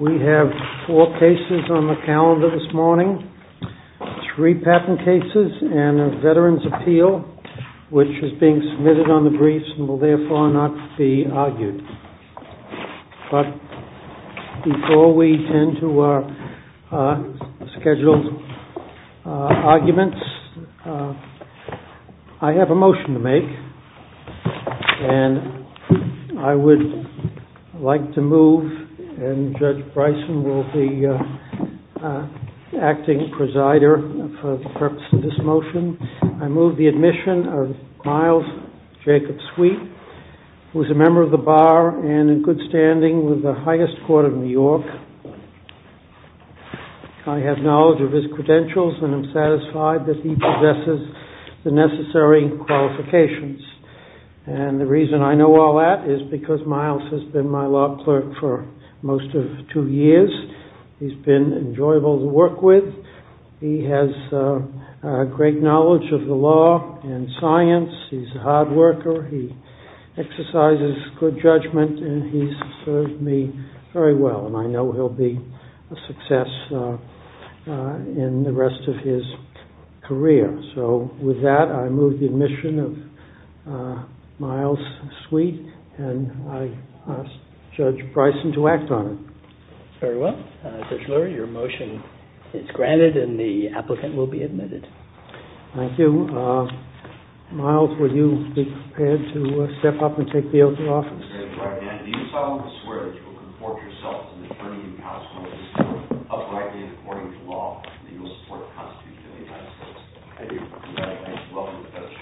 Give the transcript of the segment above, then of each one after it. We have four cases on the calendar this morning, three patent cases and a veteran's appeal which is being submitted on the briefs and will therefore not be argued. But before we tend to our scheduled arguments, I have a motion to make and I would like to move and Judge Bryson will be acting presider for the purpose of this motion. I move the admission of Miles Jacobs-Sweet who is a member of the Bar and in good standing with the highest court of New York. I have knowledge of his credentials and I'm satisfied that he possesses the necessary qualifications. And the reason I know all that is because Miles has been my law clerk for most of two years. He's been enjoyable to work with. He has great knowledge of the law and science. He's a hard worker. He exercises good judgment and he's served me very well and I know he'll be a success in the rest of his career. So with that, I move the admission of Miles-Sweet and I ask Judge Bryson to act on it. Very well. Judge Lurie, your motion is granted and the applicant will be admitted. Thank you. Miles, will you be prepared to step up and take the oath of office? Mr. Chairman, do you solemnly swear that you will conform to yourself and the attorney and counsel of this court, uprightly and according to law, and that you will support the Constitution of the United States? I do. Thank you. Welcome, Judge.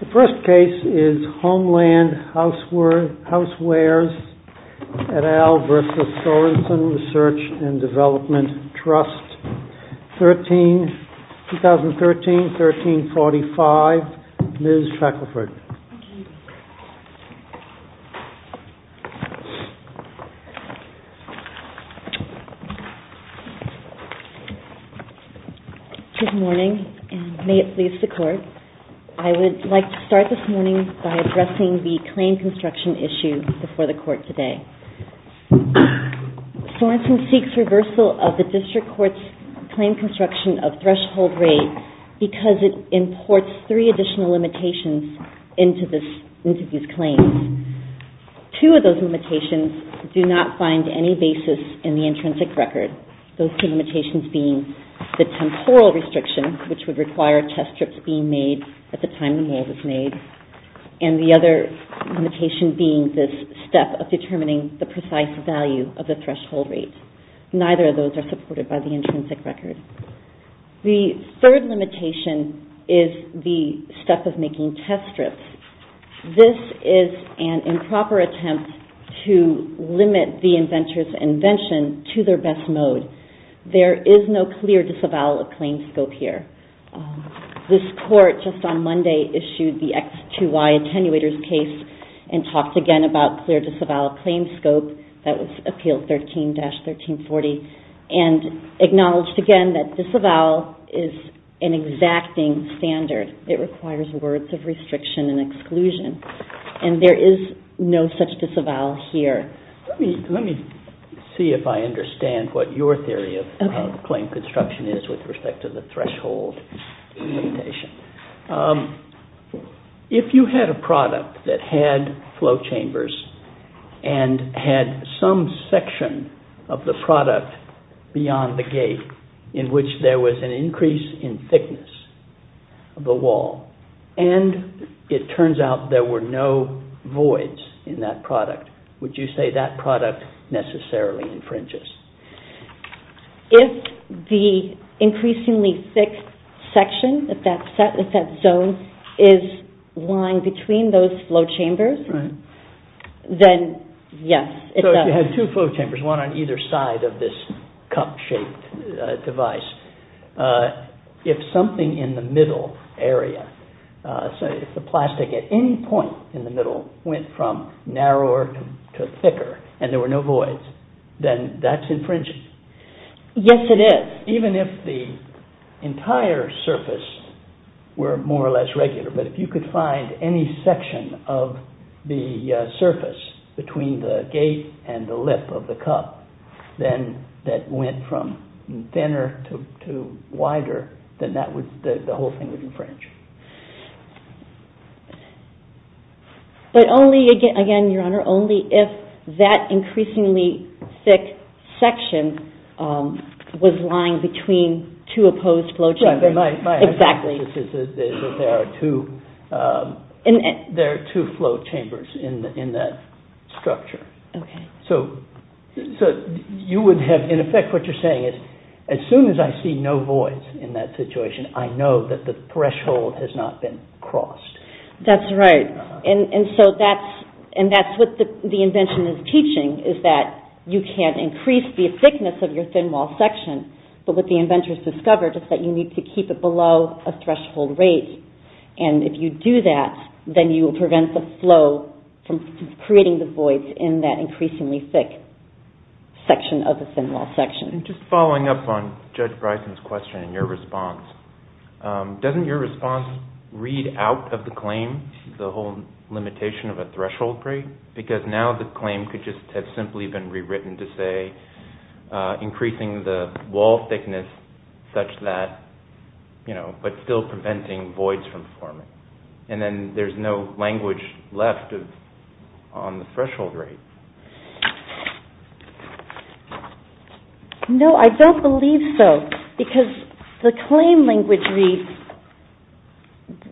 The first case is Homeland Housewares et al. v. Sorenson Research and Development Trust, 2013-1345, Ms. Shackelford. Good morning and may it please the Court, I would like to start this morning by addressing the claim construction issue before the Court today. Sorenson seeks reversal of the District Court's claim construction of threshold rate because it imports three additional limitations into these claims. Two of those limitations do not find any basis in the intrinsic record, those two limitations being the temporal restriction, which would require test strips being made at the time the rule was made, and the other limitation being this step of determining the precise value of the threshold rate. Neither of those are supported by the intrinsic record. The third limitation is the step of making test strips. This is an improper attempt to limit the inventor's invention to their best mode. There is no clear disavowal of claim scope here. This Court, just on Monday, issued the X to Y attenuators case and talked again about clear disavowal of claim scope, that was Appeal 13-1340, and acknowledged again that disavowal is an exacting standard. It requires words of restriction and exclusion, and there is no such disavowal here. Let me see if I understand what your theory of claim construction is with respect to the and had some section of the product beyond the gate in which there was an increase in thickness of the wall, and it turns out there were no voids in that product. Would you say that product necessarily infringes? If the increasingly thick section, if that zone is lying between those flow chambers, then yes, it does. So if you had two flow chambers, one on either side of this cup-shaped device, if something in the middle area, so if the plastic at any point in the middle went from narrower to thicker, and there were no voids, then that's infringing. Yes, it is. Even if the entire surface were more or less regular, but if you could find any section of the surface between the gate and the lip of the cup that went from thinner to wider, then the whole thing would infringe. But only, again, Your Honor, only if that increasingly thick section was lying between two opposed flow chambers. Exactly. My hypothesis is that there are two flow chambers in that structure. Okay. So you would have, in effect, what you're saying is as soon as I see no voids in that That's right. And so that's what the invention is teaching, is that you can't increase the thickness of your thin wall section, but what the inventors discovered is that you need to keep it below a threshold rate. And if you do that, then you will prevent the flow from creating the voids in that increasingly thick section of the thin wall section. Just following up on Judge Bryson's question and your response, doesn't your response read out of the claim the whole limitation of a threshold rate? Because now the claim could just have simply been rewritten to say increasing the wall thickness such that, you know, but still preventing voids from forming. And then there's no language left on the threshold rate. No, I don't believe so. Because the claim language reads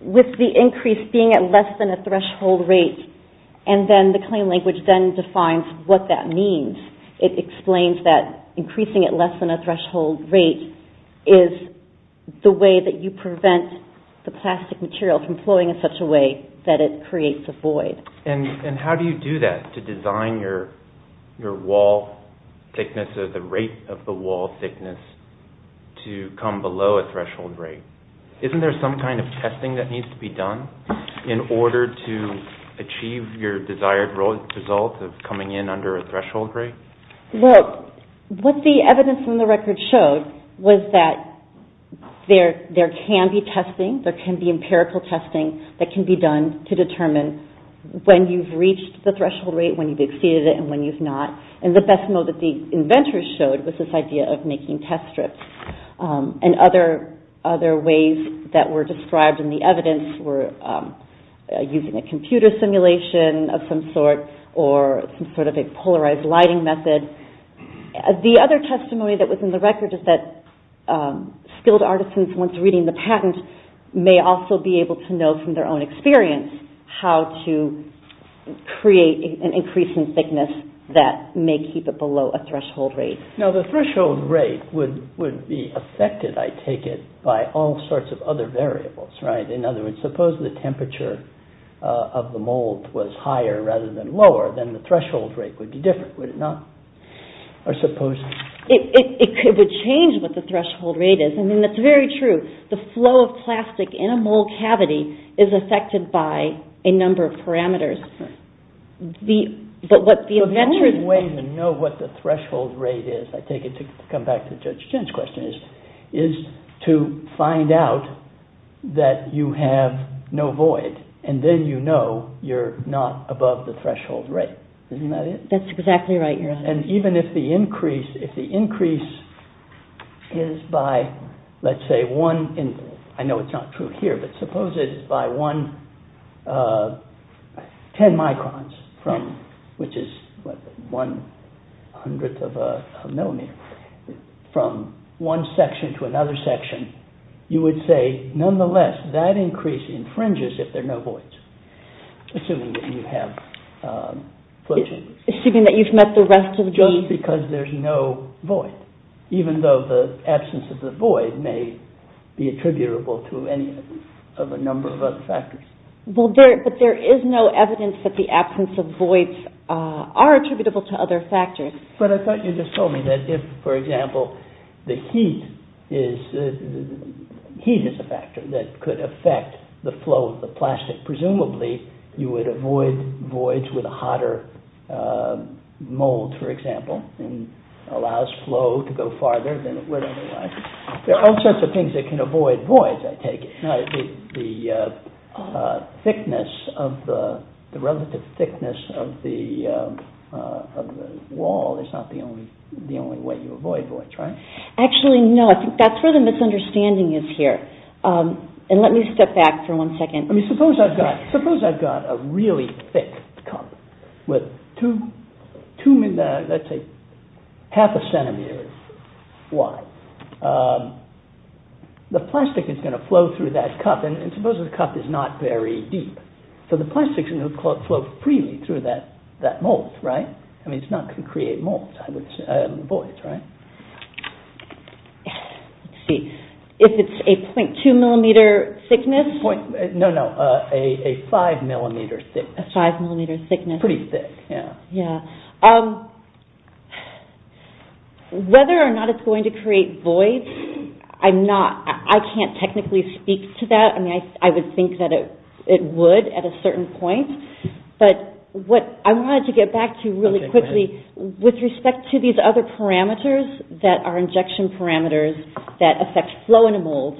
with the increase being at less than a threshold rate, and then the claim language then defines what that means. It explains that increasing at less than a threshold rate is the way that you prevent the plastic material from flowing in such a way that it creates a void. And how do you do that to design your wall thickness or the rate of the wall thickness to come below a threshold rate? Isn't there some kind of testing that needs to be done in order to achieve your desired result of coming in under a threshold rate? Well, what the evidence from the record showed was that there can be testing, there can be testing when you've reached the threshold rate, when you've exceeded it, and when you've not. And the best mode that the inventors showed was this idea of making test strips. And other ways that were described in the evidence were using a computer simulation of some sort or some sort of a polarized lighting method. The other testimony that was in the record is that skilled artisans, once reading the create an increase in thickness that may keep it below a threshold rate. Now, the threshold rate would be affected, I take it, by all sorts of other variables, right? In other words, suppose the temperature of the mold was higher rather than lower, then the threshold rate would be different, would it not? Or suppose... It would change what the threshold rate is. I mean, that's very true. The flow of plastic in a mold cavity is affected by a number of parameters. But what the inventors... But the only way to know what the threshold rate is, I take it, to come back to Judge Chen's question, is to find out that you have no void. And then you know you're not above the threshold rate. Isn't that it? That's exactly right, Your Honor. And even if the increase is by, let's say, one... I know it's not true here, but suppose it's by 10 microns, which is one hundredth of a millimeter, from one section to another section, you would say, nonetheless, that increase infringes if there are no voids, assuming that you have... Assuming that you've met the rest of the... Just because there's no void, even though the absence of the void may be attributable to any of a number of other factors. But there is no evidence that the absence of voids are attributable to other factors. But I thought you just told me that if, for example, the heat is a factor that could affect the flow of the plastic, presumably you would avoid voids with a hotter mold, for example, and allows flow to go farther than it would otherwise. There are all sorts of things that can avoid voids, I take it. The thickness of the... The relative thickness of the wall is not the only way you avoid voids, right? Actually, no. I think that's where the misunderstanding is here. And let me step back for one second. I mean, suppose I've got a really thick cup with, let's say, half a centimeter wide. The plastic is going to flow through that cup, and suppose the cup is not very deep. So the plastic is going to flow freely through that mold, right? I mean, it's not going to create molds, I would say, or voids, right? Let's see. If it's a .2 millimeter thickness... No, no, a 5 millimeter thickness. A 5 millimeter thickness. Pretty thick, yeah. Yeah. Whether or not it's going to create voids, I'm not... I can't technically speak to that. I mean, I would think that it would at a certain point. But what I wanted to get back to really quickly, with respect to these other parameters that are injection parameters that affect flow in a mold,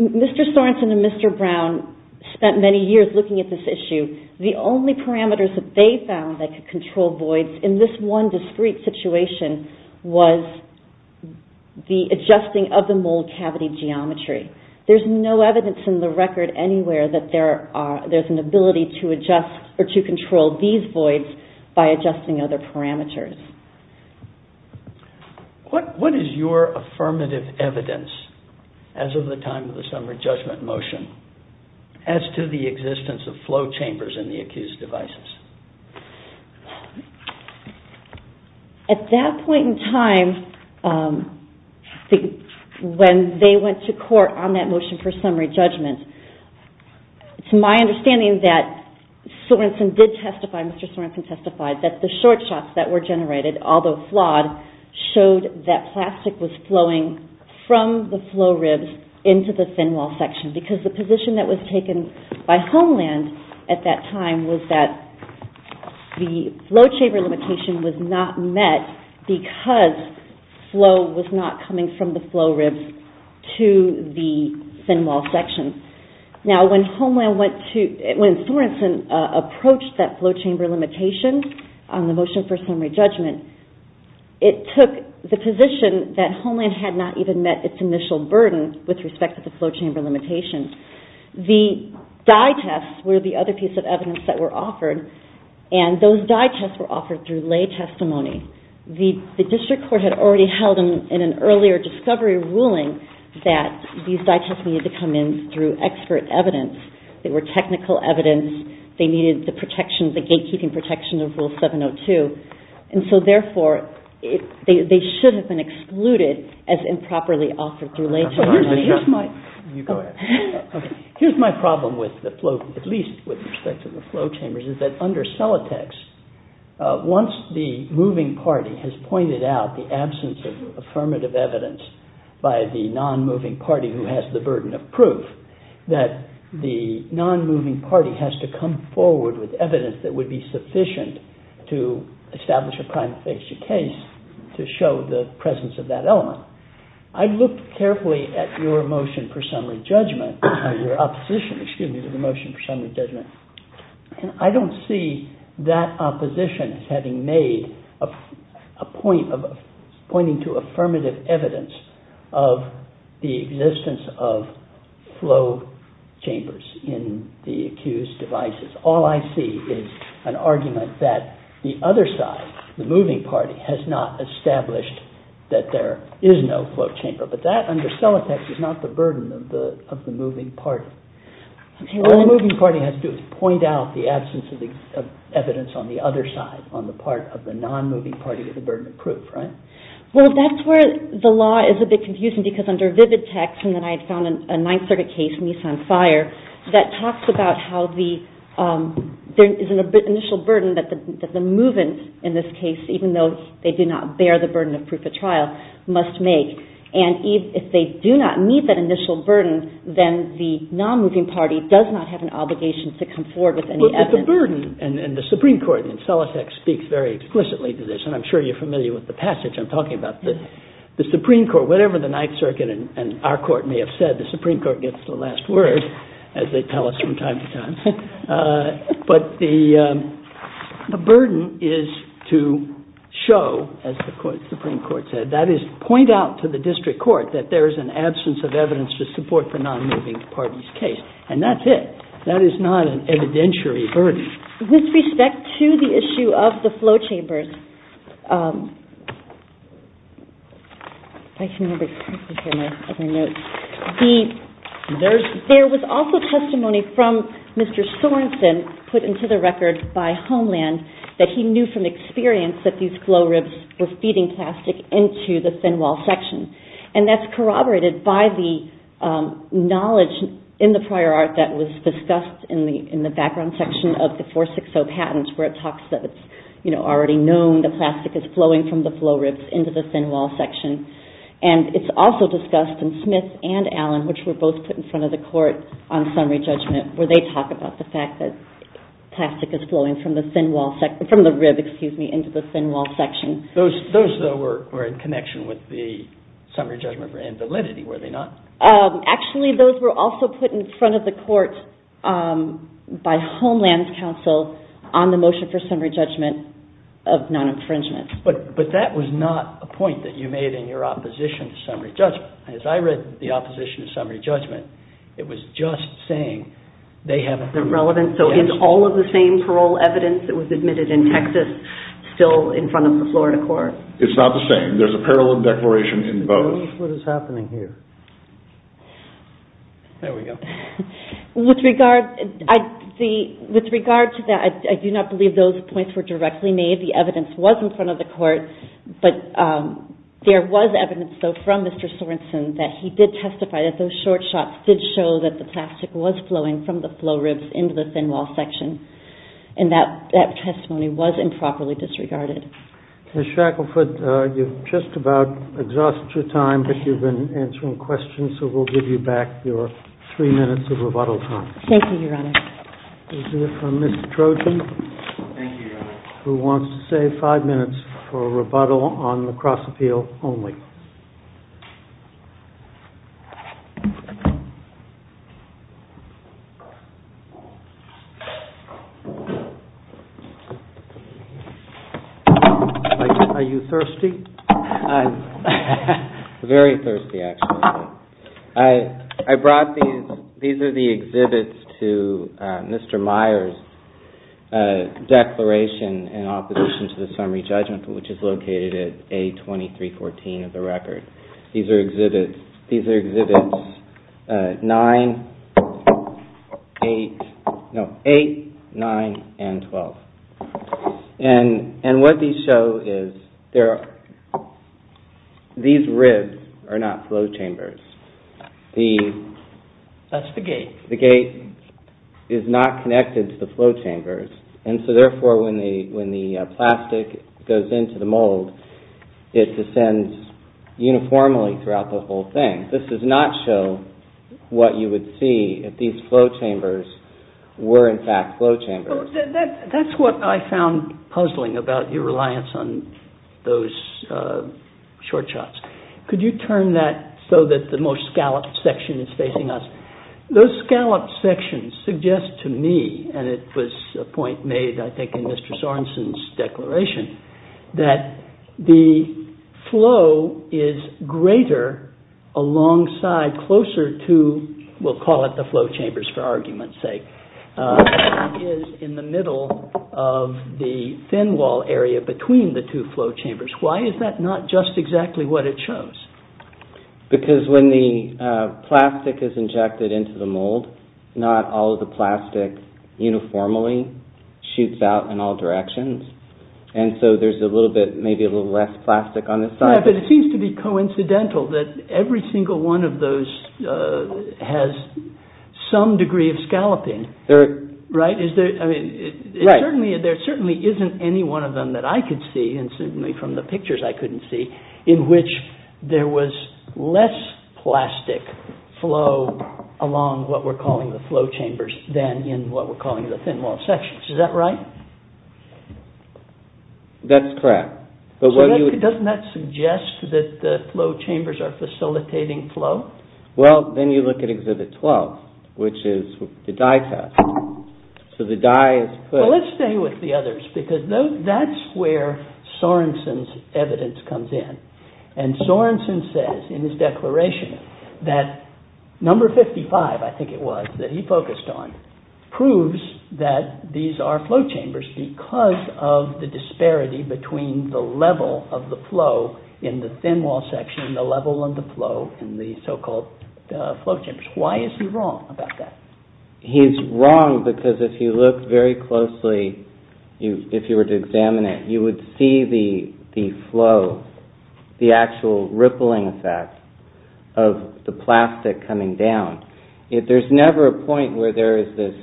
Mr. Sorensen and Mr. Brown spent many years looking at this issue. The only parameters that they found that could control voids in this one discrete situation was the adjusting of the mold cavity geometry. There's no evidence in the record anywhere that there's an ability to adjust or to control these voids by adjusting other parameters. What is your affirmative evidence, as of the time of the summary judgment motion, as to the existence of flow chambers in the accused devices? At that point in time, when they went to court on that motion for summary judgment, it's my understanding that Sorensen did testify, Mr. Sorensen testified, that the short shots that were generated, although flawed, showed that plastic was flowing from the flow ribs into the thin wall section, because the position that was taken by Homeland at that time was that the flow chamber limitation was not met because flow was not coming from the flow ribs to the thin wall section. Now, when Homeland went to, when Sorensen approached that flow chamber limitation on the motion for summary judgment, it took the position that Homeland had not even met its initial burden with respect to the flow chamber limitation. The dye tests were the other piece of evidence that were offered, and those dye tests were offered through lay testimony. The district court had already held in an earlier discovery ruling that these dye tests needed to come in through expert evidence. They were technical evidence. They needed the protection, the gatekeeping protection of Rule 702. And so, therefore, they should have been excluded as improperly offered through lay testimony. Here's my problem with the flow, at least with respect to the flow chambers, is that under Celotex, once the moving party has pointed out the absence of affirmative evidence by the non-moving party who has the burden of proof, that the non-moving party has to come forward with evidence that would be sufficient to establish a prime fixture case to show the presence of that element. Now, I've looked carefully at your motion for summary judgment, your opposition, excuse me, to the motion for summary judgment, and I don't see that opposition as having made a point of pointing to affirmative evidence of the existence of flow chambers in the accused devices. All I see is an argument that the other side, the moving party, has not established that there is no flow chamber. But that, under Celotex, is not the burden of the moving party. What the moving party has to do is point out the absence of evidence on the other side, on the part of the non-moving party with the burden of proof, right? Well, that's where the law is a bit confusing, because under Vivitex, and then I found a Ninth Circuit case, Meese on Fire, that talks about how there is an initial burden that the moving, in this case, even though they do not bear the burden of proof at trial, must make. And if they do not meet that initial burden, then the non-moving party does not have an obligation to come forward with any evidence. But the burden, and the Supreme Court in Celotex speaks very explicitly to this, and I'm sure you're familiar with the passage I'm talking about. The Supreme Court, whatever the Ninth Circuit and our court may have said, the Supreme Court gets the last word, as they tell us from time to time. But the burden is to show, as the Supreme Court said, that is, point out to the district court that there is an absence of evidence to support the non-moving party's case. And that's it. That is not an evidentiary burden. With respect to the issue of the flow chambers, there was also testimony from Mr. Sorensen put into the record by Homeland that he knew from experience that these flow ribs were feeding plastic into the thin wall section. And that's corroborated by the knowledge in the prior art that was discussed in the background section of the 460 patent, where it talks that it's already known that the flow ribs were feeding plastic knowing that plastic is flowing from the flow ribs into the thin wall section. And it's also discussed in Smith and Allen, which were both put in front of the court on summary judgment, where they talk about the fact that plastic is flowing from the rib into the thin wall section. Those, though, were in connection with the summary judgment and validity, were they not? Actually, those were also put in front of the court by Homeland's counsel on the motion for summary judgment of non-infringement. But that was not a point that you made in your opposition to summary judgment. As I read the opposition to summary judgment, it was just saying they have a... Is it relevant? So is all of the same parole evidence that was admitted in Texas still in front of the Florida court? It's not the same. There's a parallel declaration in both. What is happening here? There we go. With regard to that, I do not believe those points were directly made. The evidence was in front of the court. But there was evidence, though, from Mr. Sorenson that he did testify that those short shots did show that the plastic was flowing from the flow ribs into the thin wall section. And that testimony was improperly disregarded. Ms. Shackelford, you've just about exhausted your time, but you've been answering questions, so we'll give you back your 3 minutes of rebuttal time. Thank you, Your Honor. We'll hear from Ms. Trojan... Thank you, Your Honor. ...who wants to save 5 minutes for a rebuttal on the cross-appeal only. Are you thirsty? Very thirsty, actually. I brought these. These are the exhibits to Mr. Meyer's declaration in opposition to the summary judgment, which is located at A2314 of the record. These are exhibits 9, 8... No, 8, 9, and 12. And what these show is these ribs are not flow chambers. That's the gate. The gate is not connected to the flow chambers, and so, therefore, when the plastic goes into the mold, it descends uniformly throughout the whole thing. This does not show what you would see if these flow chambers were, in fact, flow chambers. That's what I found puzzling about your reliance on those short shots. Could you turn that so that the most scalloped section is facing us? Those scalloped sections suggest to me, and it was a point made, I think, in Mr. Sorensen's declaration, that the flow is greater alongside closer to, we'll call it the flow chambers for argument's sake, is in the middle of the thin wall area between the two flow chambers. Why is that not just exactly what it shows? Because when the plastic is injected into the mold, not all of the plastic uniformly shoots out in all directions, and so there's a little bit, maybe a little less plastic on this side. Yeah, but it seems to be coincidental that every single one of those has some degree of scalloping. There certainly isn't any one of them that I could see, and certainly from the pictures I couldn't see, in which there was less plastic flow along what we're calling the flow chambers than in what we're calling the thin wall sections. Is that right? That's correct. Doesn't that suggest that the flow chambers are facilitating flow? Well, then you look at Exhibit 12, which is the dye test. So the dye is put... Well, let's stay with the others, because that's where Sorensen's evidence comes in. And Sorensen says in his declaration that number 55, I think it was, that he focused on, proves that these are flow chambers because of the disparity between the level of the flow in the thin wall section and the level of the flow in the so-called flow chambers. Why is he wrong about that? He's wrong because if you look very closely, if you were to examine it, you would see the flow, the actual rippling effect of the plastic coming down. There's never a point where there is this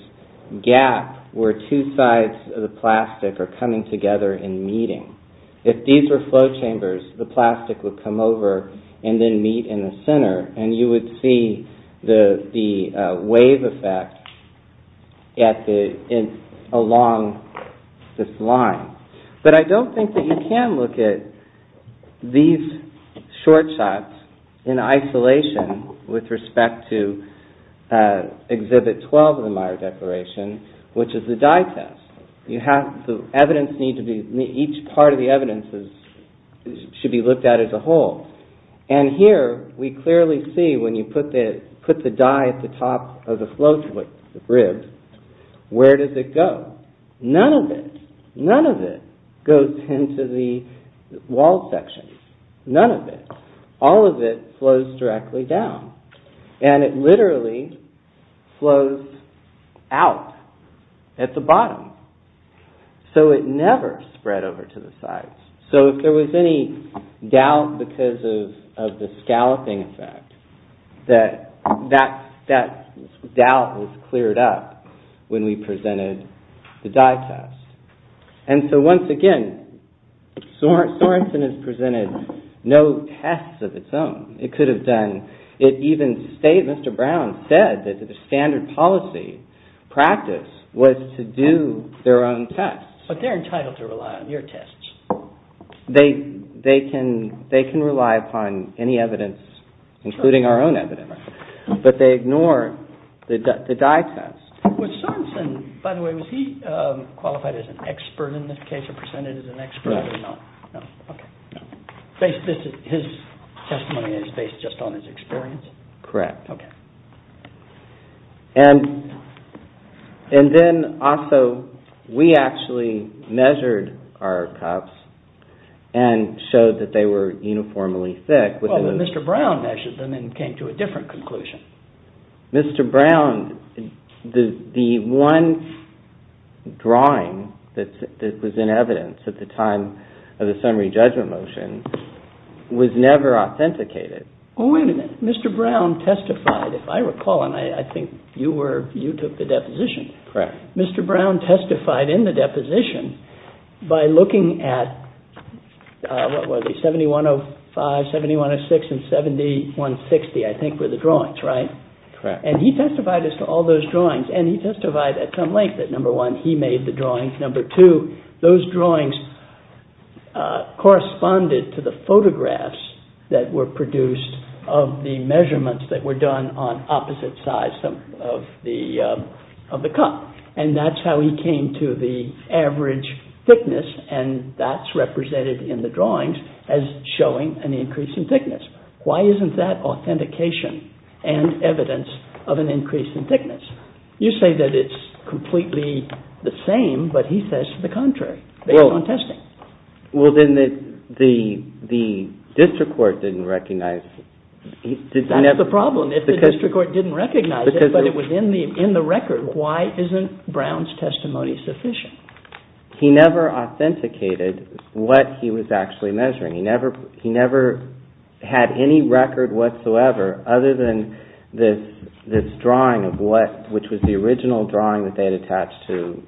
gap where two sides of the plastic are coming together and meeting. If these were flow chambers, the plastic would come over and then meet in the center, and you would see the wave effect along this line. But I don't think that you can look at these short shots in isolation with respect to Exhibit 12 of the Meyer Declaration, which is the dye test. The evidence needs to be... Each part of the evidence should be looked at as a whole. And here we clearly see when you put the dye at the top of the flow ribs, where does it go? None of it. None of it goes into the wall section. None of it. All of it flows directly down. And it literally flows out at the bottom. So it never spread over to the sides. So if there was any doubt because of the scalloping effect, that doubt was cleared up when we presented the dye test. And so once again, Sorenson has presented no tests of its own. It could have done... It even stated, Mr. Brown said, that the standard policy practice was to do their own tests. But they're entitled to rely on your tests. They can rely upon any evidence, including our own evidence. But they ignore the dye test. Was Sorenson... By the way, was he qualified as an expert in this case or presented as an expert? No. No. Okay. His testimony is based just on his experience? Correct. Okay. And then also, we actually measured our cups and showed that they were uniformly thick. Well, Mr. Brown measured them and came to a different conclusion. Mr. Brown, the one drawing that was in evidence at the time of the summary judgment motion was never authenticated. Oh, wait a minute. Mr. Brown testified. If I recall, and I think you were... You took the deposition. Correct. Mr. Brown testified in the deposition by looking at... What were they? 7105, 7106, and 7160, I think were the drawings, right? Correct. And he testified as to all those drawings. And he testified at some length that, number one, he made the drawings. Number two, those drawings corresponded to the photographs that were produced of the measurements that were done on opposite sides of the cup. And that's how he came to the average thickness, and that's represented in the drawings as showing an increase in thickness. Why isn't that authentication and evidence of an increase in thickness? You say that it's completely the same, but he says the contrary based on testing. Well, then the district court didn't recognize... That's the problem. If the district court didn't recognize it, but it was in the record, why isn't Brown's testimony sufficient? He never authenticated what he was actually measuring. He never had any record whatsoever other than this drawing of what... which was the original drawing that they had attached to...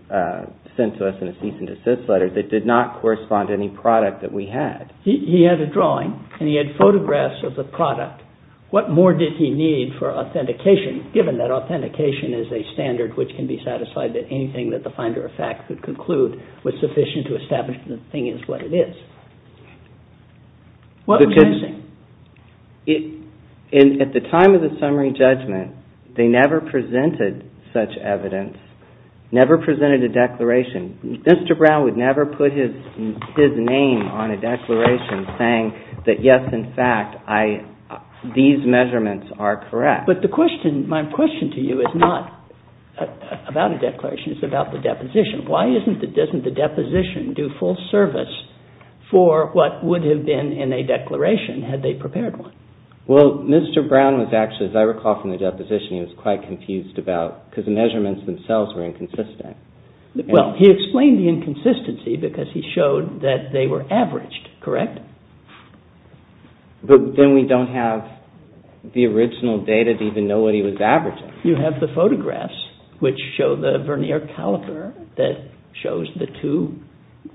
sent to us in a cease-and-desist letter that did not correspond to any product that we had. He had a drawing, and he had photographs of the product. What more did he need for authentication, given that authentication is a standard which can be satisfied that anything that the finder of fact could conclude was sufficient to establish that the thing is what it is? What was missing? At the time of the summary judgment, they never presented such evidence, never presented a declaration. Mr. Brown would never put his name on a declaration saying that, yes, in fact, I... these measurements are correct. But the question... my question to you is not about a declaration. It's about the deposition. Why isn't the... doesn't the deposition do full service for what would have been in a declaration had they prepared one? Well, Mr. Brown was actually, as I recall from the deposition, he was quite confused about... because the measurements themselves were inconsistent. Well, he explained the inconsistency because he showed that they were averaged, correct? But then we don't have the original data to even know what he was averaging. You have the photographs which show the Vernier caliper that shows the two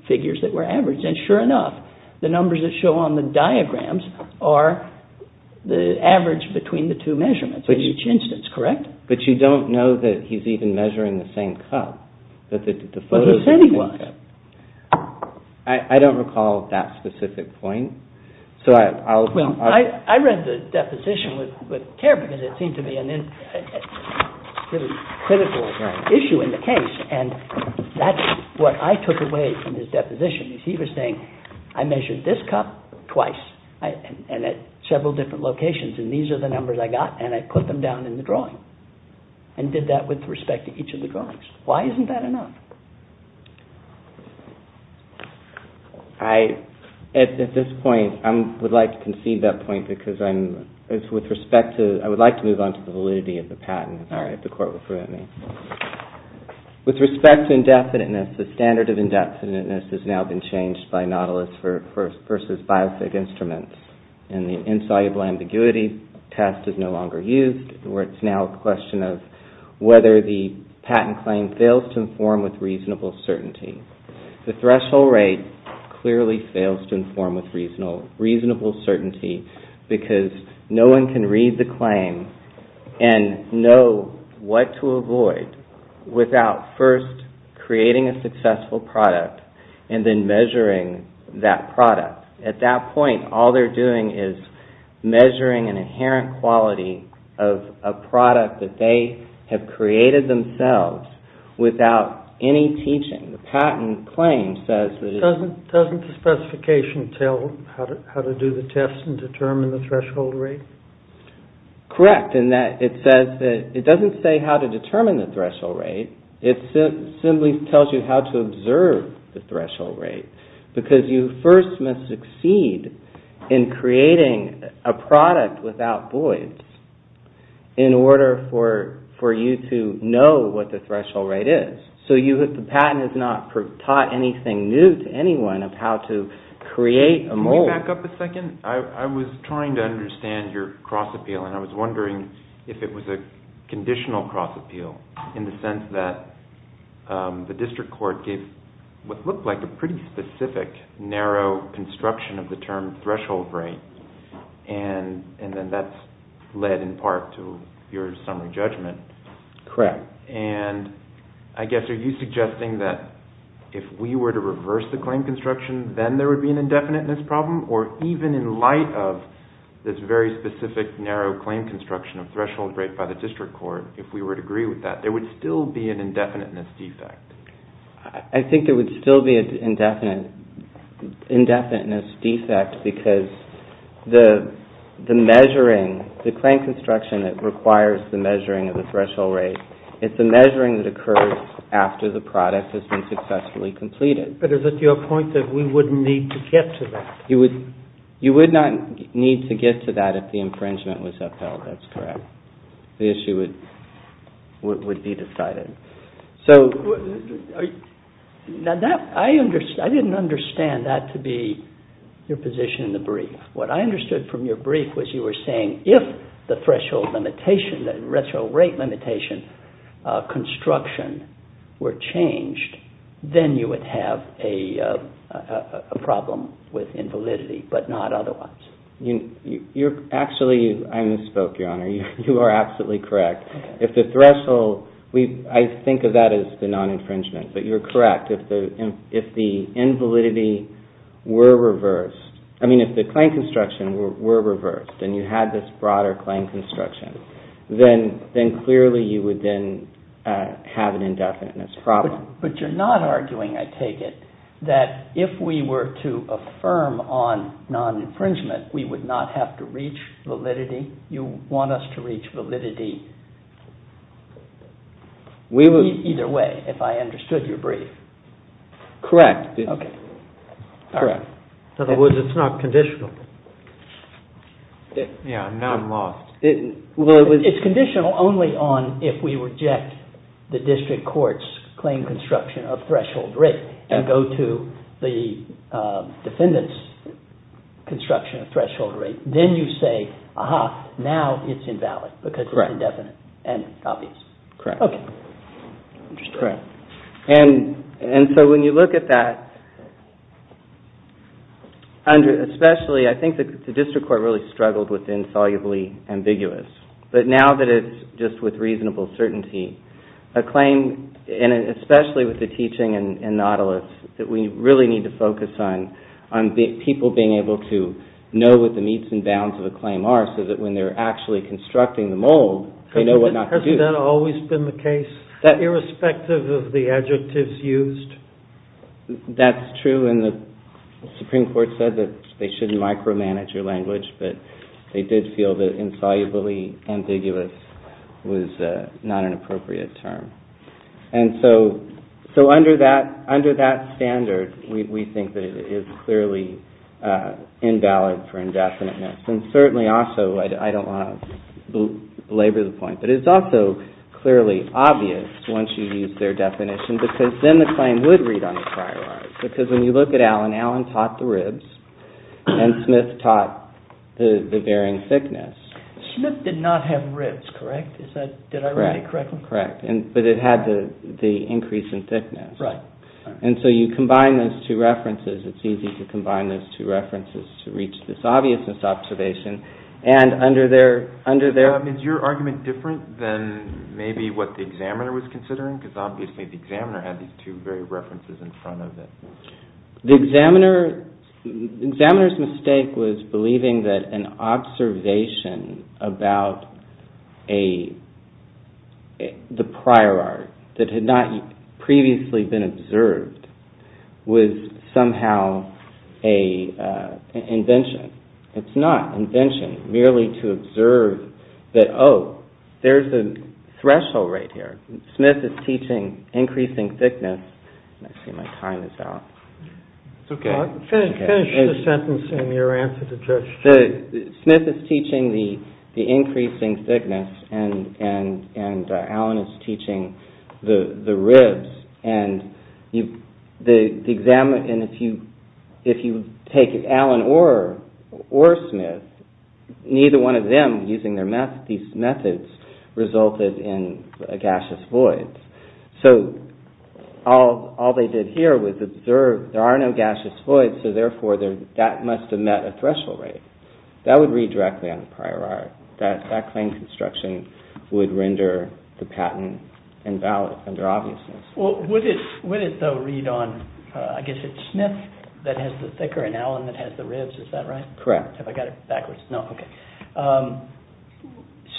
figures that were averaged. And sure enough, the numbers that show on the diagrams are the average between the two measurements in each instance, correct? But you don't know that he's even measuring the same cup. But the photos... But he said he was. I don't recall that specific point. So I'll... Well, I read the deposition with care because it seemed to be a really critical issue in the case. And that's what I took away from his deposition is he was saying, I measured this cup twice and at several different locations and these are the numbers I got and I put them down in the drawing and did that with respect to each of the drawings. Why isn't that enough? I... At this point, I would like to concede that point because I'm... With respect to... I would like to move on to the validity of the patent. All right, the court will permit me. With respect to indefiniteness, the standard of indefiniteness has now been changed by Nautilus versus biophig instruments and the insoluble ambiguity test is no longer used where it's now a question of whether the patent claim fails to inform with reasonable certainty. The threshold rate clearly fails to inform with reasonable certainty because no one can read the claim and know what to avoid without first creating a successful product and then measuring that product. At that point, all they're doing is measuring an inherent quality of a product that they have created themselves without any teaching. The patent claim says that... Doesn't the specification tell how to do the test and determine the threshold rate? Correct, in that it says that... It doesn't say how to determine the threshold rate. It simply tells you how to observe the threshold rate because you first must succeed in creating a product without voids in order for you to know what the threshold rate is. So the patent has not taught anything new to anyone of how to create a mold. Can you back up a second? I was trying to understand your cross appeal and I was wondering if it was a conditional cross appeal in the sense that the district court gave what looked like a pretty specific narrow construction of the term threshold rate and then that's led in part to your summary judgment. Correct. And I guess are you suggesting that if we were to reverse the claim construction then there would be an indefiniteness problem or even in light of this very specific narrow claim construction of threshold rate by the district court if we were to agree with that there would still be an indefiniteness defect? I think there would still be an indefiniteness defect because the measuring, the claim construction that requires the measuring of the threshold rate is the measuring that occurs after the product has been successfully completed. But is it your point that we wouldn't need to get to that? You would not need to get to that if the infringement was upheld. That's correct. The issue would be decided. Now, I didn't understand that to be your position in the brief. What I understood from your brief was you were saying if the threshold limitation, the threshold rate limitation construction were changed then you would have a problem with invalidity but not otherwise. You're actually, I misspoke, Your Honor. You are absolutely correct. If the threshold, I think of that as the non-infringement but you're correct. If the invalidity were reversed, I mean if the claim construction were reversed and you had this broader claim construction then clearly you would then have an indefiniteness problem. But you're not arguing, I take it, that if we were to affirm on non-infringement we would not have to reach validity? You want us to reach validity either way if I understood your brief? Correct. Okay. Correct. In other words, it's not conditional. Yeah, now I'm lost. It's conditional only on if we reject the district court's claim construction of threshold rate and go to the defendant's construction of threshold rate. Then you say, aha, now it's invalid because it's indefinite and obvious. Correct. Okay. Correct. And so when you look at that, especially I think the district court really struggled with insolubly ambiguous but now that it's just with reasonable certainty, a claim, and especially with the teaching in Nautilus that we really need to focus on people being able to know what the meets and bounds of a claim are so that when they're actually constructing the mold they know what not to do. Hasn't that always been the case? Irrespective of the adjectives used? That's true. And the Supreme Court said that they shouldn't micromanage your language but they did feel that insolubly ambiguous was not an appropriate term. And so under that standard we think that it is clearly invalid for indefiniteness. And certainly also, I don't want to belabor the point, but it's also clearly obvious once you use their definition because then the claim would read on the prior art. Because when you look at Allen, Allen taught the ribs and Smith taught the bearing thickness. Smith did not have ribs, correct? Did I read it correctly? Correct. But it had the increase in thickness. Right. And so you combine those two references. It's easy to combine those two references to reach this obviousness observation. And under their... Is your argument different than maybe what the examiner was considering? Because obviously the examiner had these two very references in front of it. The examiner's mistake was believing that an observation about the prior art that had not previously been observed was somehow an invention. It's not invention. Merely to observe that, oh, there's a threshold right here. Smith is teaching increasing thickness. Let's see, my time is out. It's okay. Finish the sentence and your answer to Judge Stewart. Smith is teaching the increasing thickness and Allen is teaching the ribs. And if you take Allen or Smith, neither one of them using these methods resulted in a gaseous void. So all they did here was observe. There are no gaseous voids, so therefore that must have met a threshold rate. That would read directly on the prior art. That claim construction would render the patent invalid under obviousness. Well, would it though read on, I guess it's Smith that has the thicker and Allen that has the ribs. Is that right? Correct. Have I got it backwards? No, okay.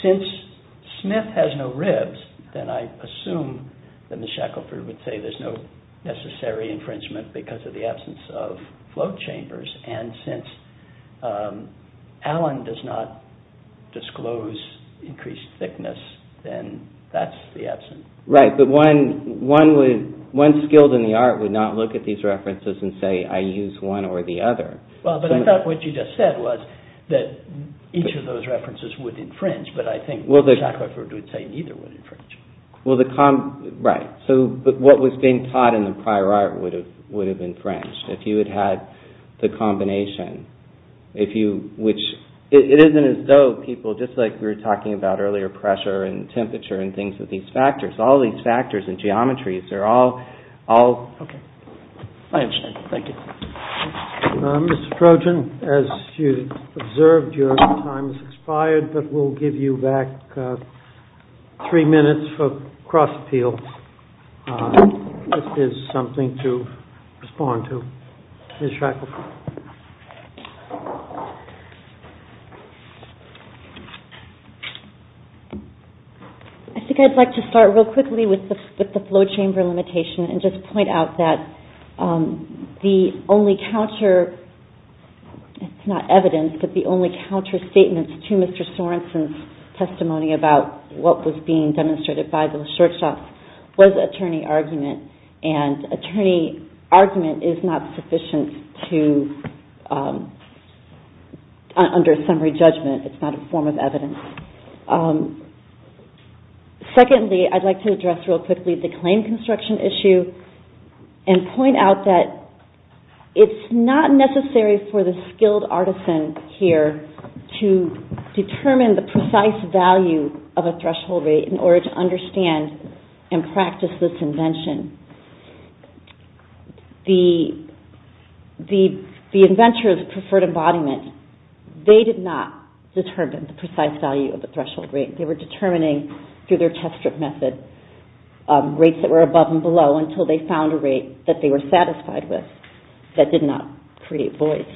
Since Smith has no ribs, then I assume that Ms. Shackelford would say there's no necessary infringement because of the absence of float chambers. And since Allen does not disclose increased thickness, then that's the absence. Right, but one skilled in the art would not look at these references and say I use one or the other. Well, but I thought what you just said was that each of those references would infringe, but I think Ms. Shackelford would say neither would infringe. Right, but what was being taught in the prior art would have infringed. If you had had the combination, if you, which, it isn't as though people, just like we were talking about earlier, pressure and temperature and things with these factors, all these factors and geometries, they're all, all. Okay. I understand, thank you. Mr. Trojan, as you observed, your time has expired, but we'll give you back three minutes for cross appeals. This is something to respond to. Ms. Shackelford. I think I'd like to start real quickly with the float chamber limitation and just point out that the only counter, it's not evidence, but the only counter statements to Mr. Sorensen's testimony about what was being demonstrated by those short shots was attorney argument and attorney argument is not sufficient to, under summary judgment, it's not a form of evidence. Secondly, I'd like to address real quickly the claim construction issue and point out that it's not necessary for the skilled artisan here to determine the precise value of a threshold rate in order to understand and practice this invention. The inventors preferred embodiment. They did not determine the precise value of the threshold rate. They were determining through their test strip method rates that were above and below until they found a rate that they were satisfied with that did not create voice.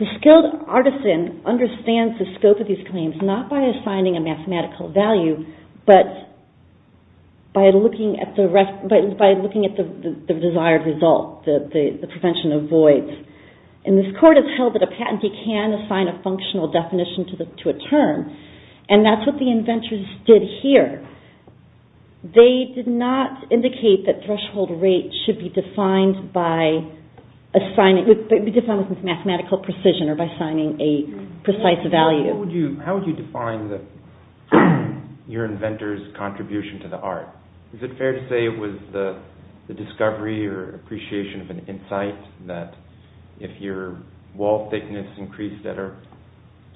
The skilled artisan understands the scope of these claims not by assigning a mathematical value, but by looking at the desired result, the prevention of voice. And this court has held that a patentee can assign a functional definition to a term and that's what the inventors did here. They did not indicate that threshold rates should be defined by mathematical precision or by assigning a precise value. How would you define your inventor's contribution to the art? Is it fair to say it was the discovery or appreciation of an insight that if your wall thickness increased at a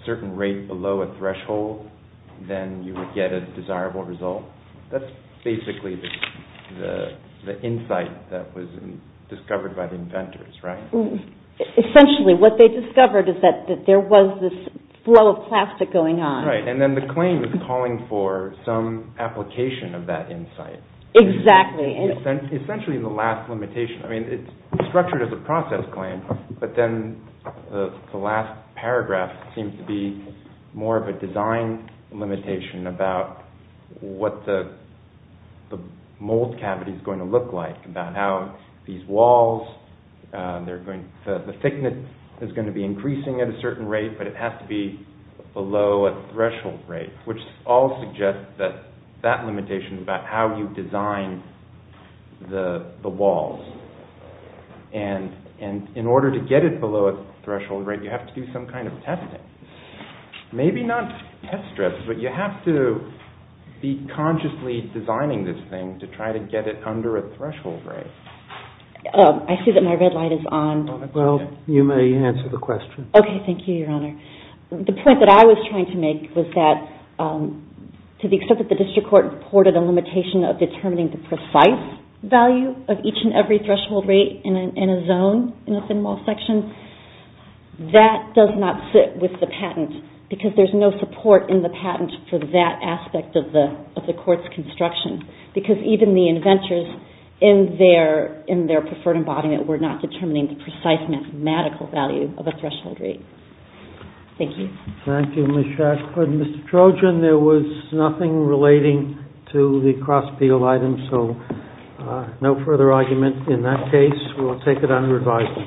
certain rate below a threshold, then you would get a desirable result? That's basically the insight that was discovered by the inventors, right? Essentially, what they discovered is that there was this flow of plastic going on. Right, and then the claim is calling for some application of that insight. Exactly. Essentially, the last limitation, I mean, it's structured as a process claim, but then the last paragraph seems to be more of a design limitation about what the mold cavity is going to look like, about how these walls, the thickness is going to be increasing at a certain rate, but it has to be below a threshold rate, which all suggest that that limitation is about how you design the walls. And in order to get it below a threshold rate, you have to do some kind of testing. Maybe not test strips, but you have to be consciously designing this thing to try to get it under a threshold rate. I see that my red light is on. Well, you may answer the question. Okay, thank you, Your Honor. The point that I was trying to make was that to the extent that the district court reported a limitation of determining the precise value of each and every threshold rate in a zone in a thin wall section, that does not sit with the patent because there's no support in the patent for that aspect of the court's construction because even the inventors in their preferred embodiment were not determining the precise mathematical value of a threshold rate. Thank you. Thank you, Ms. Shack. Mr. Trojan, there was nothing relating to the Crossfield item, so no further argument in that case. We will take it under advisory.